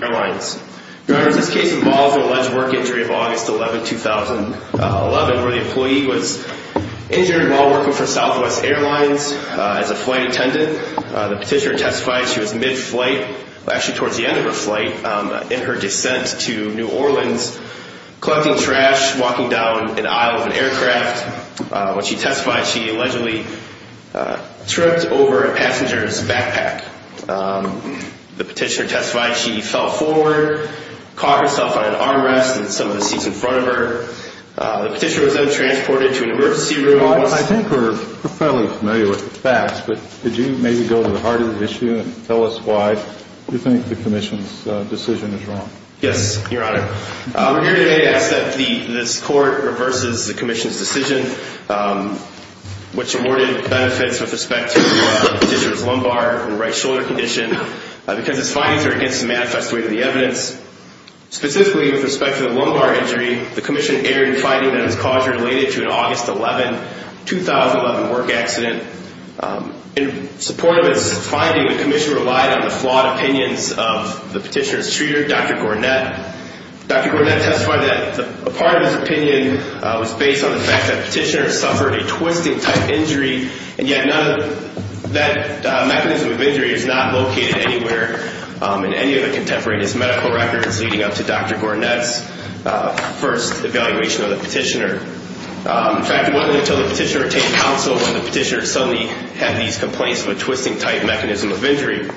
Airlines. Your Honor, this case involves an alleged work injury of August 11, 2011, where the employee was injured while working for Southwest Airlines as a flight attendant. The petitioner testified she was mid-flight, actually towards the end of her flight, in her descent to New Orleans, collecting trash, walking down an aisle of an aircraft. When she testified, she allegedly tripped over a passenger's backpack. The petitioner testified she fell forward, caught herself on an armrest and some of the seats in front of her. The petitioner was then transported to an emergency room. Well, I think we're fairly familiar with the facts, but could you maybe go to the heart of the issue and tell us why you think the Commission's decision is wrong? Yes, Your Honor. We're here today to ask that this Court reverses the Commission's decision, which awarded benefits with respect to the petitioner's lumbar and right shoulder condition. Because its findings are against the manifest way of the evidence. Specifically, with respect to the lumbar injury, the Commission erred in finding that its causes are related to an August 11, 2011, work accident. In support of its finding, the Commission relied on the flawed opinions of the petitioner's treater, Dr. Gornett. Dr. Gornett testified that a part of his opinion was based on the fact that the petitioner suffered a twisting-type injury, and yet none of that mechanism of injury is not located anywhere in any of the contemporaneous medical records leading up to Dr. Gornett's first evaluation of the petitioner. In fact, it wasn't until the petitioner attained counsel when the petitioner suddenly had these complaints of a twisting-type mechanism of injury. In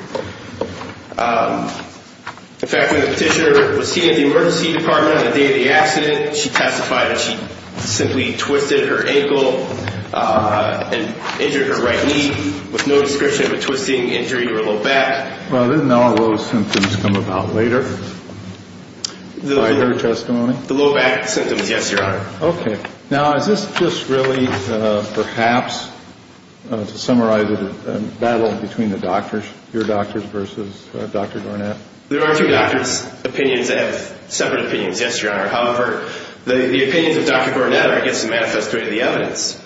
fact, when the petitioner was seen at the emergency department on the day of the accident, she testified that she simply twisted her ankle and injured her right knee with no description of a twisting injury or low back. Well, didn't all those symptoms come about later by her testimony? The low back symptoms, yes, Your Honor. Okay. Now, is this just really perhaps to summarize a battle between the doctors, your doctors versus Dr. Gornett? There are two doctors' opinions that have separate opinions, yes, Your Honor. However, the opinions of Dr. Gornett are against the manifesto of the evidence.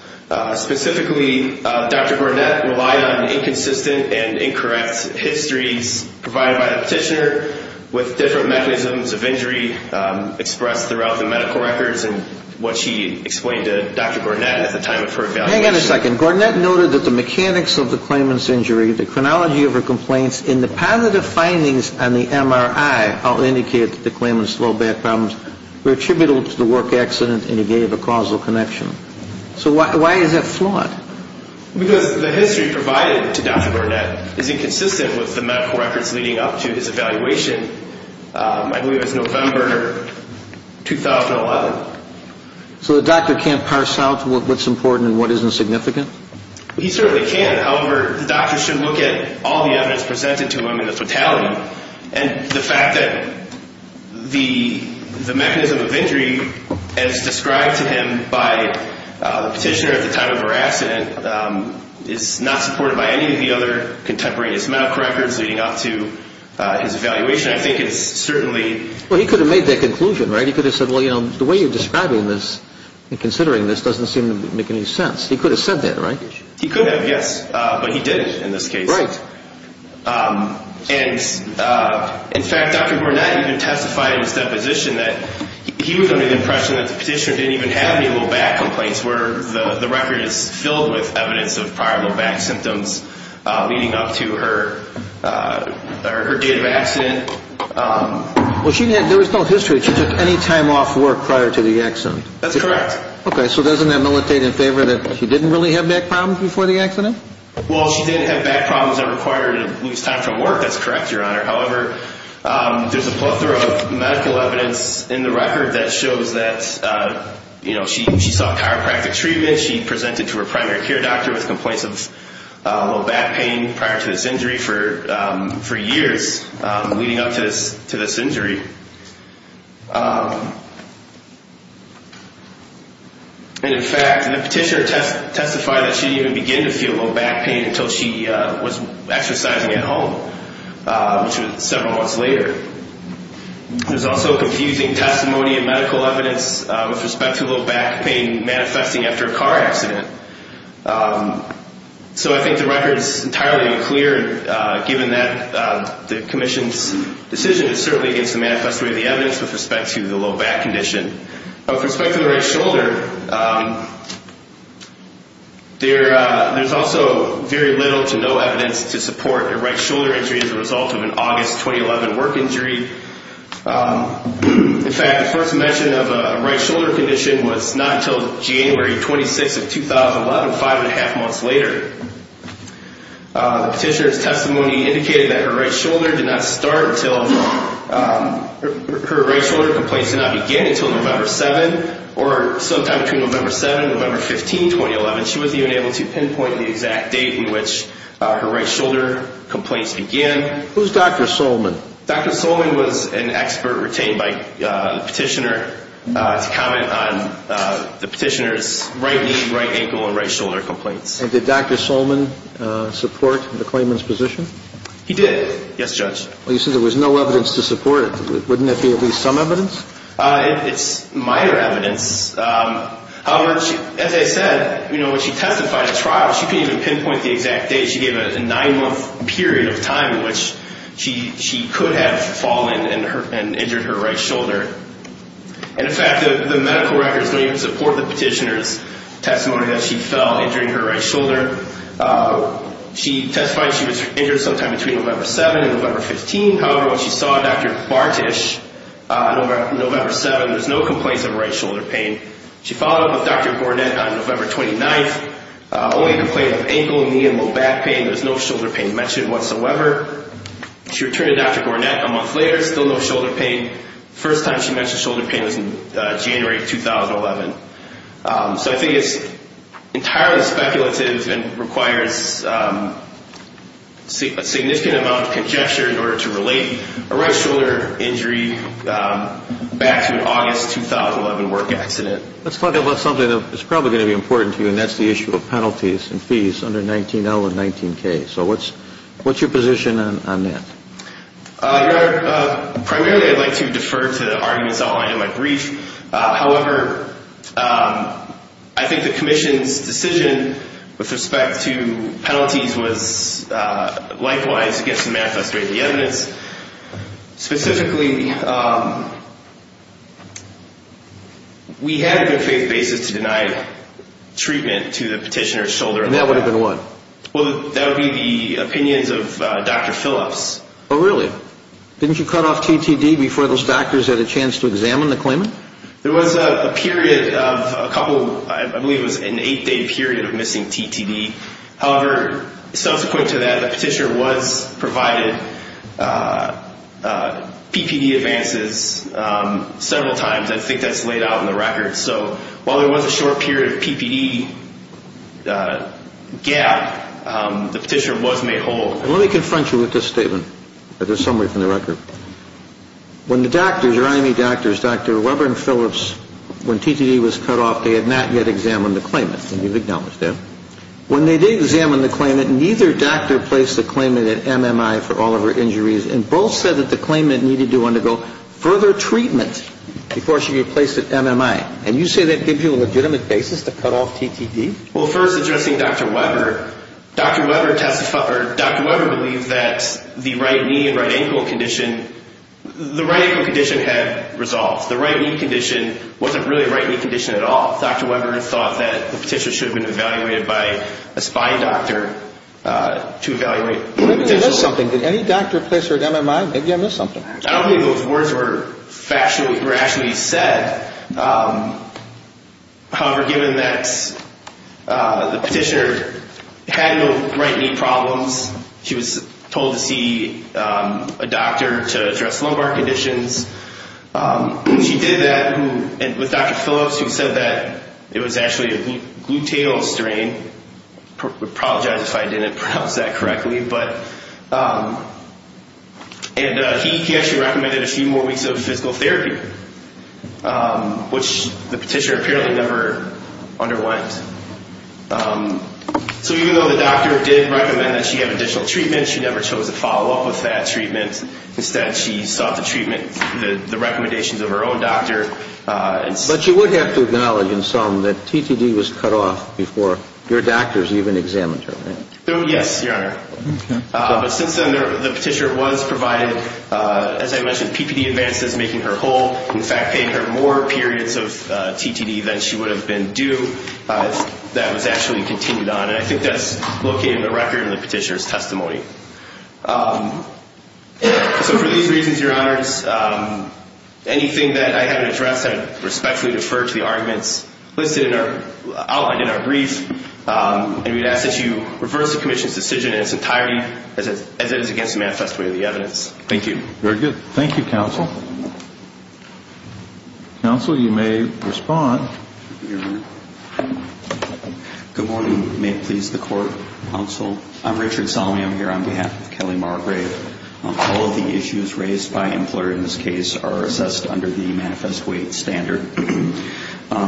Specifically, Dr. Gornett relied on inconsistent and incorrect histories provided by the petitioner with different mechanisms of injury expressed throughout the medical records and what she explained to Dr. Gornett at the time of her evaluation. Hang on a second. Gornett noted that the mechanics of the claimant's injury, the chronology of her complaints, and the positive findings on the MRI all indicated that the claimant's low back problems were attributable to the work accident, and he gave a causal connection. So why is that flawed? Because the history provided to Dr. Gornett is inconsistent with the medical records leading up to his evaluation, I believe it was November 2011. So the doctor can't parse out what's important and what isn't significant? He certainly can. However, the doctor should look at all the evidence presented to him in the fatality, and the fact that the mechanism of injury as described to him by the petitioner at the time of her accident is not supported by any of the other contemporaneous medical records leading up to his evaluation, I think it's certainly... Well, he could have made that conclusion, right? He could have said, well, you know, the way you're describing this and considering this doesn't seem to make any sense. He could have said that, right? He could have, yes, but he didn't in this case. Right. And in fact, Dr. Gornett even testified in his deposition that he was under the impression that the petitioner didn't even have any low back complaints where the record is filled with evidence of prior low back symptoms leading up to her date of accident. Well, there was no history that she took any time off work prior to the accident. That's correct. Okay, so doesn't that militate in favor that she didn't really have back problems before the accident? Well, she did have back problems that required her to lose time from work. That's correct, Your Honor. However, there's a plethora of medical evidence in the record that shows that, you know, she sought chiropractic treatment. She presented to her primary care doctor with complaints of low back pain prior to this injury for years leading up to this injury. And in fact, the petitioner testified that she didn't even begin to feel low back pain until she was exercising at home, which was several months later. There's also confusing testimony and medical evidence with respect to low back pain manifesting after a car accident. So I think the record is entirely unclear, given that the commission's decision is certainly against the manifesto of the evidence with respect to the low back condition. With respect to the right shoulder, there's also very little to no evidence to support a right shoulder injury as a result of an August 2011 work injury. In fact, the first mention of a right shoulder condition was not until January 26th of 2011, five and a half months later. The petitioner's testimony indicated that her right shoulder did not start until – her right shoulder complaints did not begin until November 7th, or sometime between November 7th and November 15th, 2011. She wasn't even able to pinpoint the exact date in which her right shoulder complaints began. Who's Dr. Solman? Dr. Solman was an expert retained by the petitioner to comment on the petitioner's right knee, right ankle, and right shoulder complaints. And did Dr. Solman support the claimant's position? He did, yes, Judge. Well, you said there was no evidence to support it. Wouldn't that be at least some evidence? It's minor evidence. However, as I said, when she testified at trial, she couldn't even pinpoint the exact date. She gave a nine-month period of time in which she could have fallen and injured her right shoulder. And in fact, the medical records don't even support the petitioner's testimony that she fell, injuring her right shoulder. She testified she was injured sometime between November 7th and November 15th. However, when she saw Dr. Bartish on November 7th, there was no complaints of right shoulder pain. She followed up with Dr. Gornett on November 29th. Only a complaint of ankle, knee, and low back pain. There was no shoulder pain mentioned whatsoever. She returned to Dr. Gornett a month later. Still no shoulder pain. First time she mentioned shoulder pain was in January 2011. So I think it's entirely speculative and requires a significant amount of conjecture in order to relate a right shoulder injury back to an August 2011 work accident. Let's talk about something that's probably going to be important to you, and that's the issue of penalties and fees under 19L and 19K. So what's your position on that? Your Honor, primarily I'd like to defer to the arguments outlined in my brief. However, I think the commission's decision with respect to penalties was likewise against the manifest rate of the evidence. Specifically, we had a good faith basis to deny treatment to the petitioner's shoulder. And that would have been what? Well, that would be the opinions of Dr. Phillips. Oh, really? Didn't you cut off TTD before those factors had a chance to examine the claimant? There was a period of a couple, I believe it was an eight-day period of missing TTD. However, subsequent to that, the petitioner was provided PPD advances several times. I think that's laid out in the record. So while there was a short period of PPD gap, the petitioner was made whole. Let me confront you with this statement, or this summary from the record. When the doctors, or IME doctors, Dr. Weber and Phillips, when TTD was cut off, they had not yet examined the claimant. When they did examine the claimant, neither doctor placed the claimant at MMI for all of her injuries, and both said that the claimant needed to undergo further treatment before she could be placed at MMI. And you say that gives you a legitimate basis to cut off TTD? Well, first, addressing Dr. Weber. Dr. Weber believes that the right knee and right ankle condition had resolved. The right knee condition wasn't really a right knee condition at all. Dr. Weber thought that the petitioner should have been evaluated by a spine doctor to evaluate. Maybe I missed something. Did any doctor place her at MMI? Maybe I missed something. I don't think those words were rationally said. However, given that the petitioner had no right knee problems, she was told to see a doctor to address lumbar conditions. She did that with Dr. Phillips, who said that it was actually a gluteal strain. I apologize if I didn't pronounce that correctly. And he actually recommended a few more weeks of physical therapy. Which the petitioner apparently never underwent. So even though the doctor did recommend that she have additional treatment, she never chose to follow up with that treatment. Instead, she sought the treatment, the recommendations of her own doctor. But you would have to acknowledge in sum that TTD was cut off before your doctors even examined her, right? Yes, Your Honor. But since then, the petitioner was provided, as I mentioned, PPD advances making her whole. In fact, paying her more periods of TTD than she would have been due. That was actually continued on. And I think that's located in the record in the petitioner's testimony. So for these reasons, Your Honors, anything that I haven't addressed, I respectfully defer to the arguments listed in our outline in our brief. And we'd ask that you reverse the Commission's decision in its entirety as it is against the manifest weight of the evidence. Thank you. Very good. Thank you, Counsel. Counsel, you may respond. Good morning. May it please the Court, Counsel. I'm Richard Salme. I'm here on behalf of Kelly Margrave. All of the issues raised by Impler in this case are assessed under the manifest weight standard.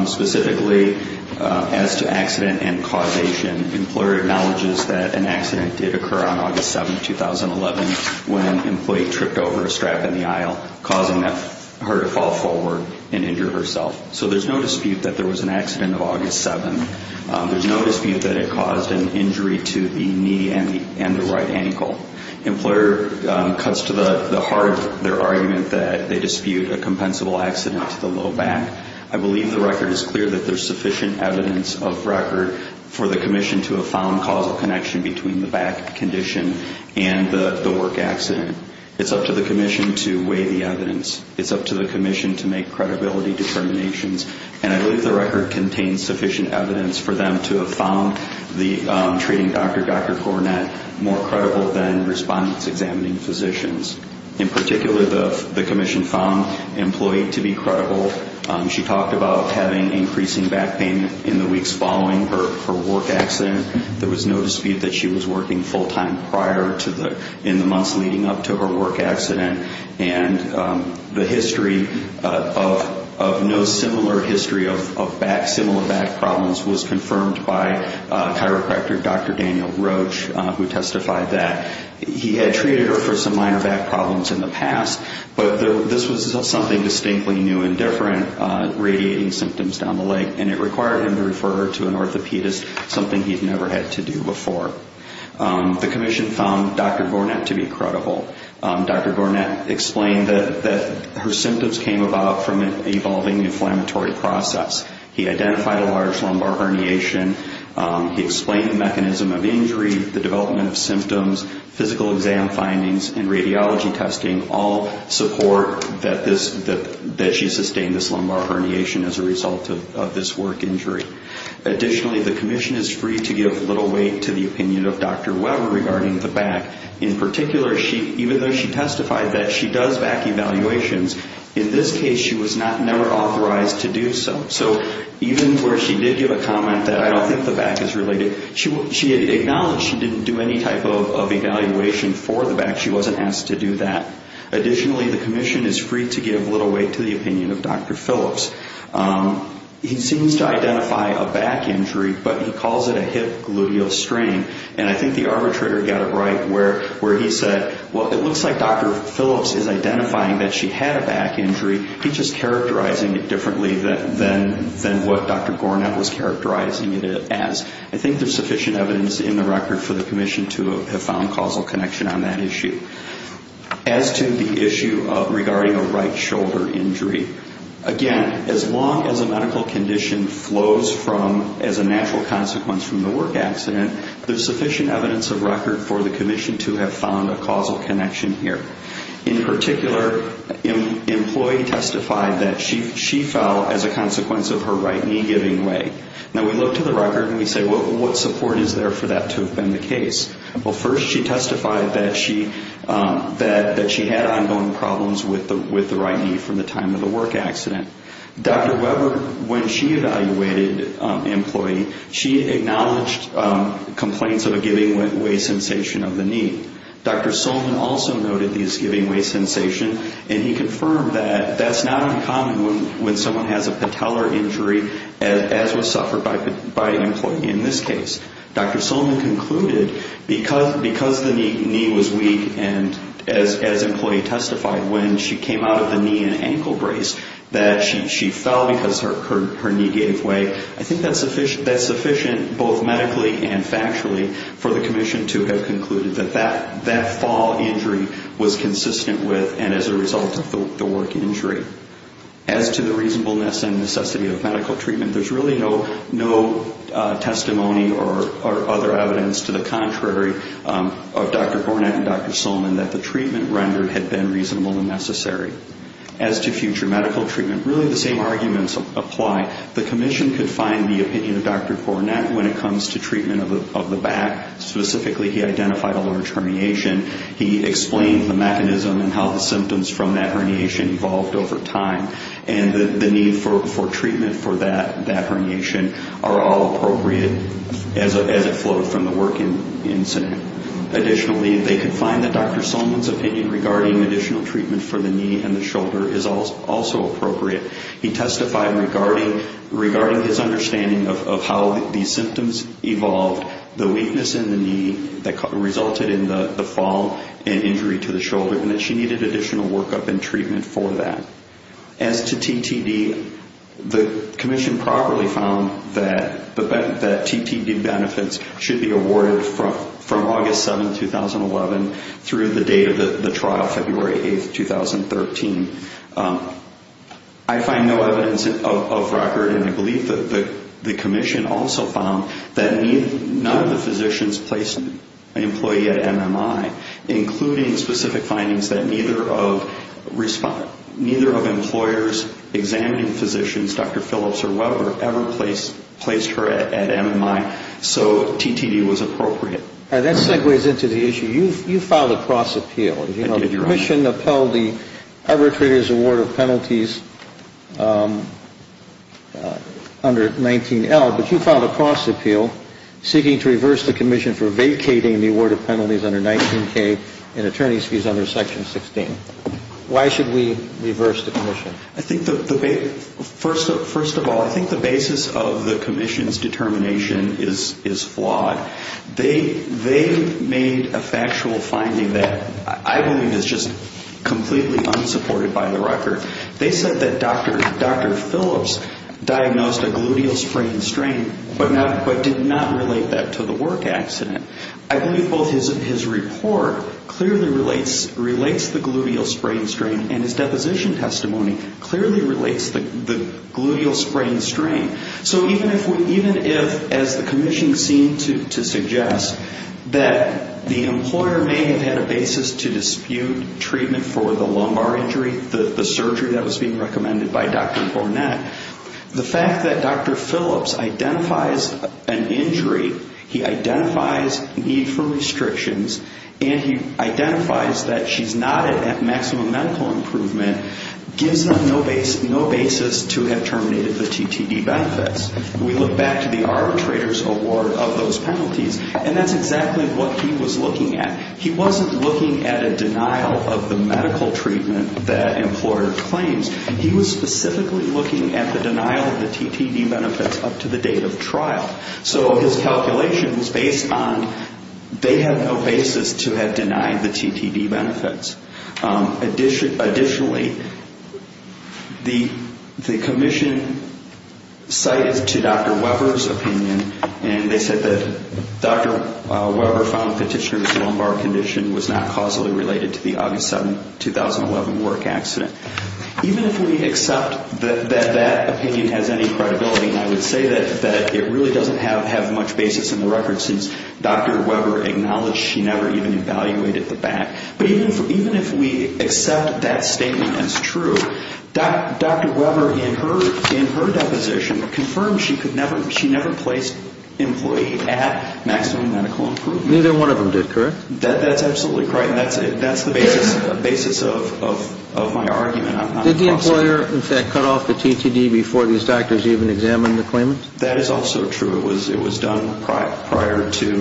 Specifically, as to accident and causation, Impler acknowledges that an accident did occur on August 7, 2011, when an employee tripped over a strap in the aisle, causing her to fall forward and injure herself. So there's no dispute that there was an accident of August 7. There's no dispute that it caused an injury to the knee and the right ankle. Impler cuts to the heart of their argument that they dispute a compensable accident to the low back. I believe the record is clear that there's sufficient evidence of record for the Commission to have found causal connection between the back condition and the work accident. It's up to the Commission to weigh the evidence. It's up to the Commission to make credibility determinations. And I believe the record contains sufficient evidence for them to have found the treating doctor, Dr. Coronet, more credible than respondents examining physicians. In particular, the Commission found the employee to be credible. She talked about having increasing back pain in the weeks following her work accident. There was no dispute that she was working full-time prior to the, in the months leading up to her work accident. And the history of no similar history of back, similar back problems was confirmed by chiropractor Dr. Daniel Roach, who testified that he had treated her for some minor back problems in the past. But this was something distinctly new and different, radiating symptoms down the leg. And it required him to refer her to an orthopedist, something he'd never had to do before. The Commission found Dr. Coronet to be credible. Dr. Coronet explained that her symptoms came about from an evolving inflammatory process. He identified a large lumbar herniation. He explained the mechanism of injury, the development of symptoms, physical exam findings, and radiology testing all support that this, that she sustained this lumbar herniation as a result of this work injury. Additionally, the Commission is free to give little weight to the opinion of Dr. Weber regarding the back. In particular, she, even though she testified that she does back evaluations, in this case she was not, never authorized to do so. So even where she did give a comment that I don't think the back is related, she acknowledged she didn't do any type of evaluation for the back. She wasn't asked to do that. Additionally, the Commission is free to give little weight to the opinion of Dr. Phillips. He seems to identify a back injury, but he calls it a hip gluteal strain. And I think the arbitrator got it right where he said, well, it looks like Dr. Phillips is identifying that she had a back injury, he's just characterizing it differently than what Dr. Coronet was characterizing it as. I think there's sufficient evidence in the record for the Commission to have found causal connection on that issue. As to the issue regarding a right shoulder injury, again, as long as a medical condition flows from, as a natural consequence from the work accident, there's sufficient evidence of record for the Commission to have found a causal connection here. In particular, an employee testified that she fell as a consequence of her right knee giving way. Now, we look to the record and we say, well, what support is there for that to have been the case? Well, first she testified that she had ongoing problems with the right knee from the time of the work accident. Dr. Weber, when she evaluated an employee, she acknowledged complaints of a giving way sensation of the knee. Dr. Solman also noted this giving way sensation, and he confirmed that that's not uncommon when someone has a patellar injury, as was suffered by an employee in this case. Dr. Solman concluded because the knee was weak, and as an employee testified, when she came out of the knee and ankle brace, that she fell because her knee gave way. I think that's sufficient both medically and factually for the Commission to have concluded that that fall injury was consistent with and as a result of the work injury. As to the reasonableness and necessity of medical treatment, there's really no testimony or other evidence to the contrary of Dr. Burnett and Dr. Solman that the treatment rendered had been reasonable and necessary. As to future medical treatment, really the same arguments apply. The Commission could find the opinion of Dr. Burnett when it comes to treatment of the back. Specifically, he identified a large herniation. He explained the mechanism and how the symptoms from that herniation evolved over time, and the need for treatment for that herniation are all appropriate as it flowed from the work incident. Additionally, they could find that Dr. Solman's opinion regarding additional treatment for the knee and the shoulder is also appropriate. He testified regarding his understanding of how these symptoms evolved, the weakness in the knee that resulted in the fall and injury to the shoulder, and that she needed additional workup and treatment for that. As to TTD, the Commission properly found that TTD benefits should be awarded from August 7, 2011 through the date of the trial, February 8, 2013. I find no evidence of record, and I believe that the Commission also found that none of the physicians placed an employee at MMI, including specific findings that neither of employers examining physicians, Dr. Phillips or Weber, ever placed her at MMI. So TTD was appropriate. That segues into the issue. You filed a cross appeal. I did, Your Honor. The Commission upheld the arbitrator's award of penalties under 19L, but you filed a cross appeal seeking to reverse the Commission for vacating the award of penalties under 19K and attorney's fees under Section 16. Why should we reverse the Commission? I think the basis of the Commission's determination is flawed. They made a factual finding that I believe is just completely unsupported by the record. They said that Dr. Phillips diagnosed a gluteal sprain strain but did not relate that to the work accident. I believe both his report clearly relates the gluteal sprain strain and his deposition testimony clearly relates the gluteal sprain strain. So even if, as the Commission seemed to suggest, that the employer may have had a basis to dispute treatment for the lumbar injury, the surgery that was being recommended by Dr. Hornett, the fact that Dr. Phillips identifies an injury, he identifies need for restrictions, and he identifies that she's not at maximum medical improvement, gives them no basis to have terminated the TTD benefits. We look back to the arbitrator's award of those penalties, and that's exactly what he was looking at. He wasn't looking at a denial of the medical treatment that employer claims. He was specifically looking at the denial of the TTD benefits up to the date of trial. So his calculation was based on they had no basis to have denied the TTD benefits. Additionally, the Commission cited to Dr. Weber's opinion, and they said that Dr. Weber found the petitioner's lumbar condition was not causally related to the August 7, 2011 work accident. Even if we accept that that opinion has any credibility, and I would say that it really doesn't have much basis in the record since Dr. Weber acknowledged she never even evaluated the back. But even if we accept that statement as true, Dr. Weber, in her deposition, confirmed she never placed employee at maximum medical improvement. Neither one of them did, correct? That's absolutely correct, and that's the basis of my argument. Did the employer, in fact, cut off the TTD before these doctors even examined the claimant? That is also true. It was done prior to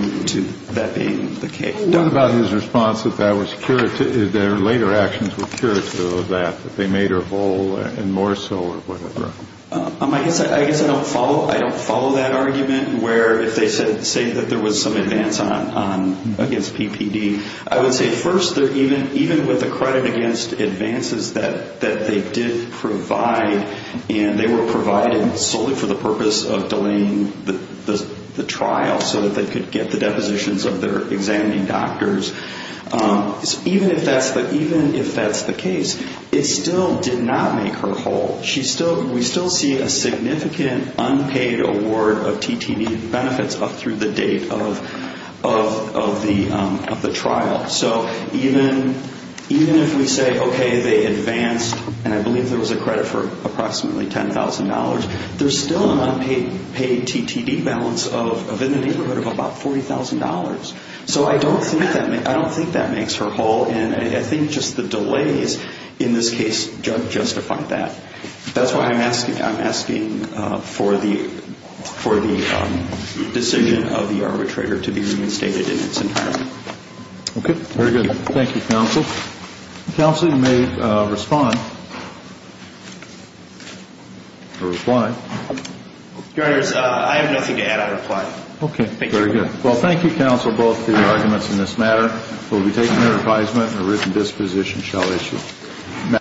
that being the case. What about his response that later actions were curative of that, that they made her whole and more so or whatever? I guess I don't follow that argument where if they say that there was some advance against PPD, I would say first, even with the credit against advances that they did provide, and they were provided solely for the purpose of delaying the trial so that they could get the depositions of their examining doctors, even if that's the case, it still did not make her whole. We still see a significant unpaid award of TTD benefits up through the date of the trial. So even if we say, okay, they advanced, and I believe there was a credit for approximately $10,000, there's still an unpaid TTD balance in the neighborhood of about $40,000. So I don't think that makes her whole, and I think just the delays in this case justify that. That's why I'm asking for the decision of the arbitrator to be reinstated in its entirety. Okay, very good. Thank you, counsel. Counsel, you may respond or reply. Your Honors, I have nothing to add. I'll reply. Okay, very good. Well, thank you, counsel, both for your arguments in this matter. We'll be taking your advisement, and a written disposition shall issue.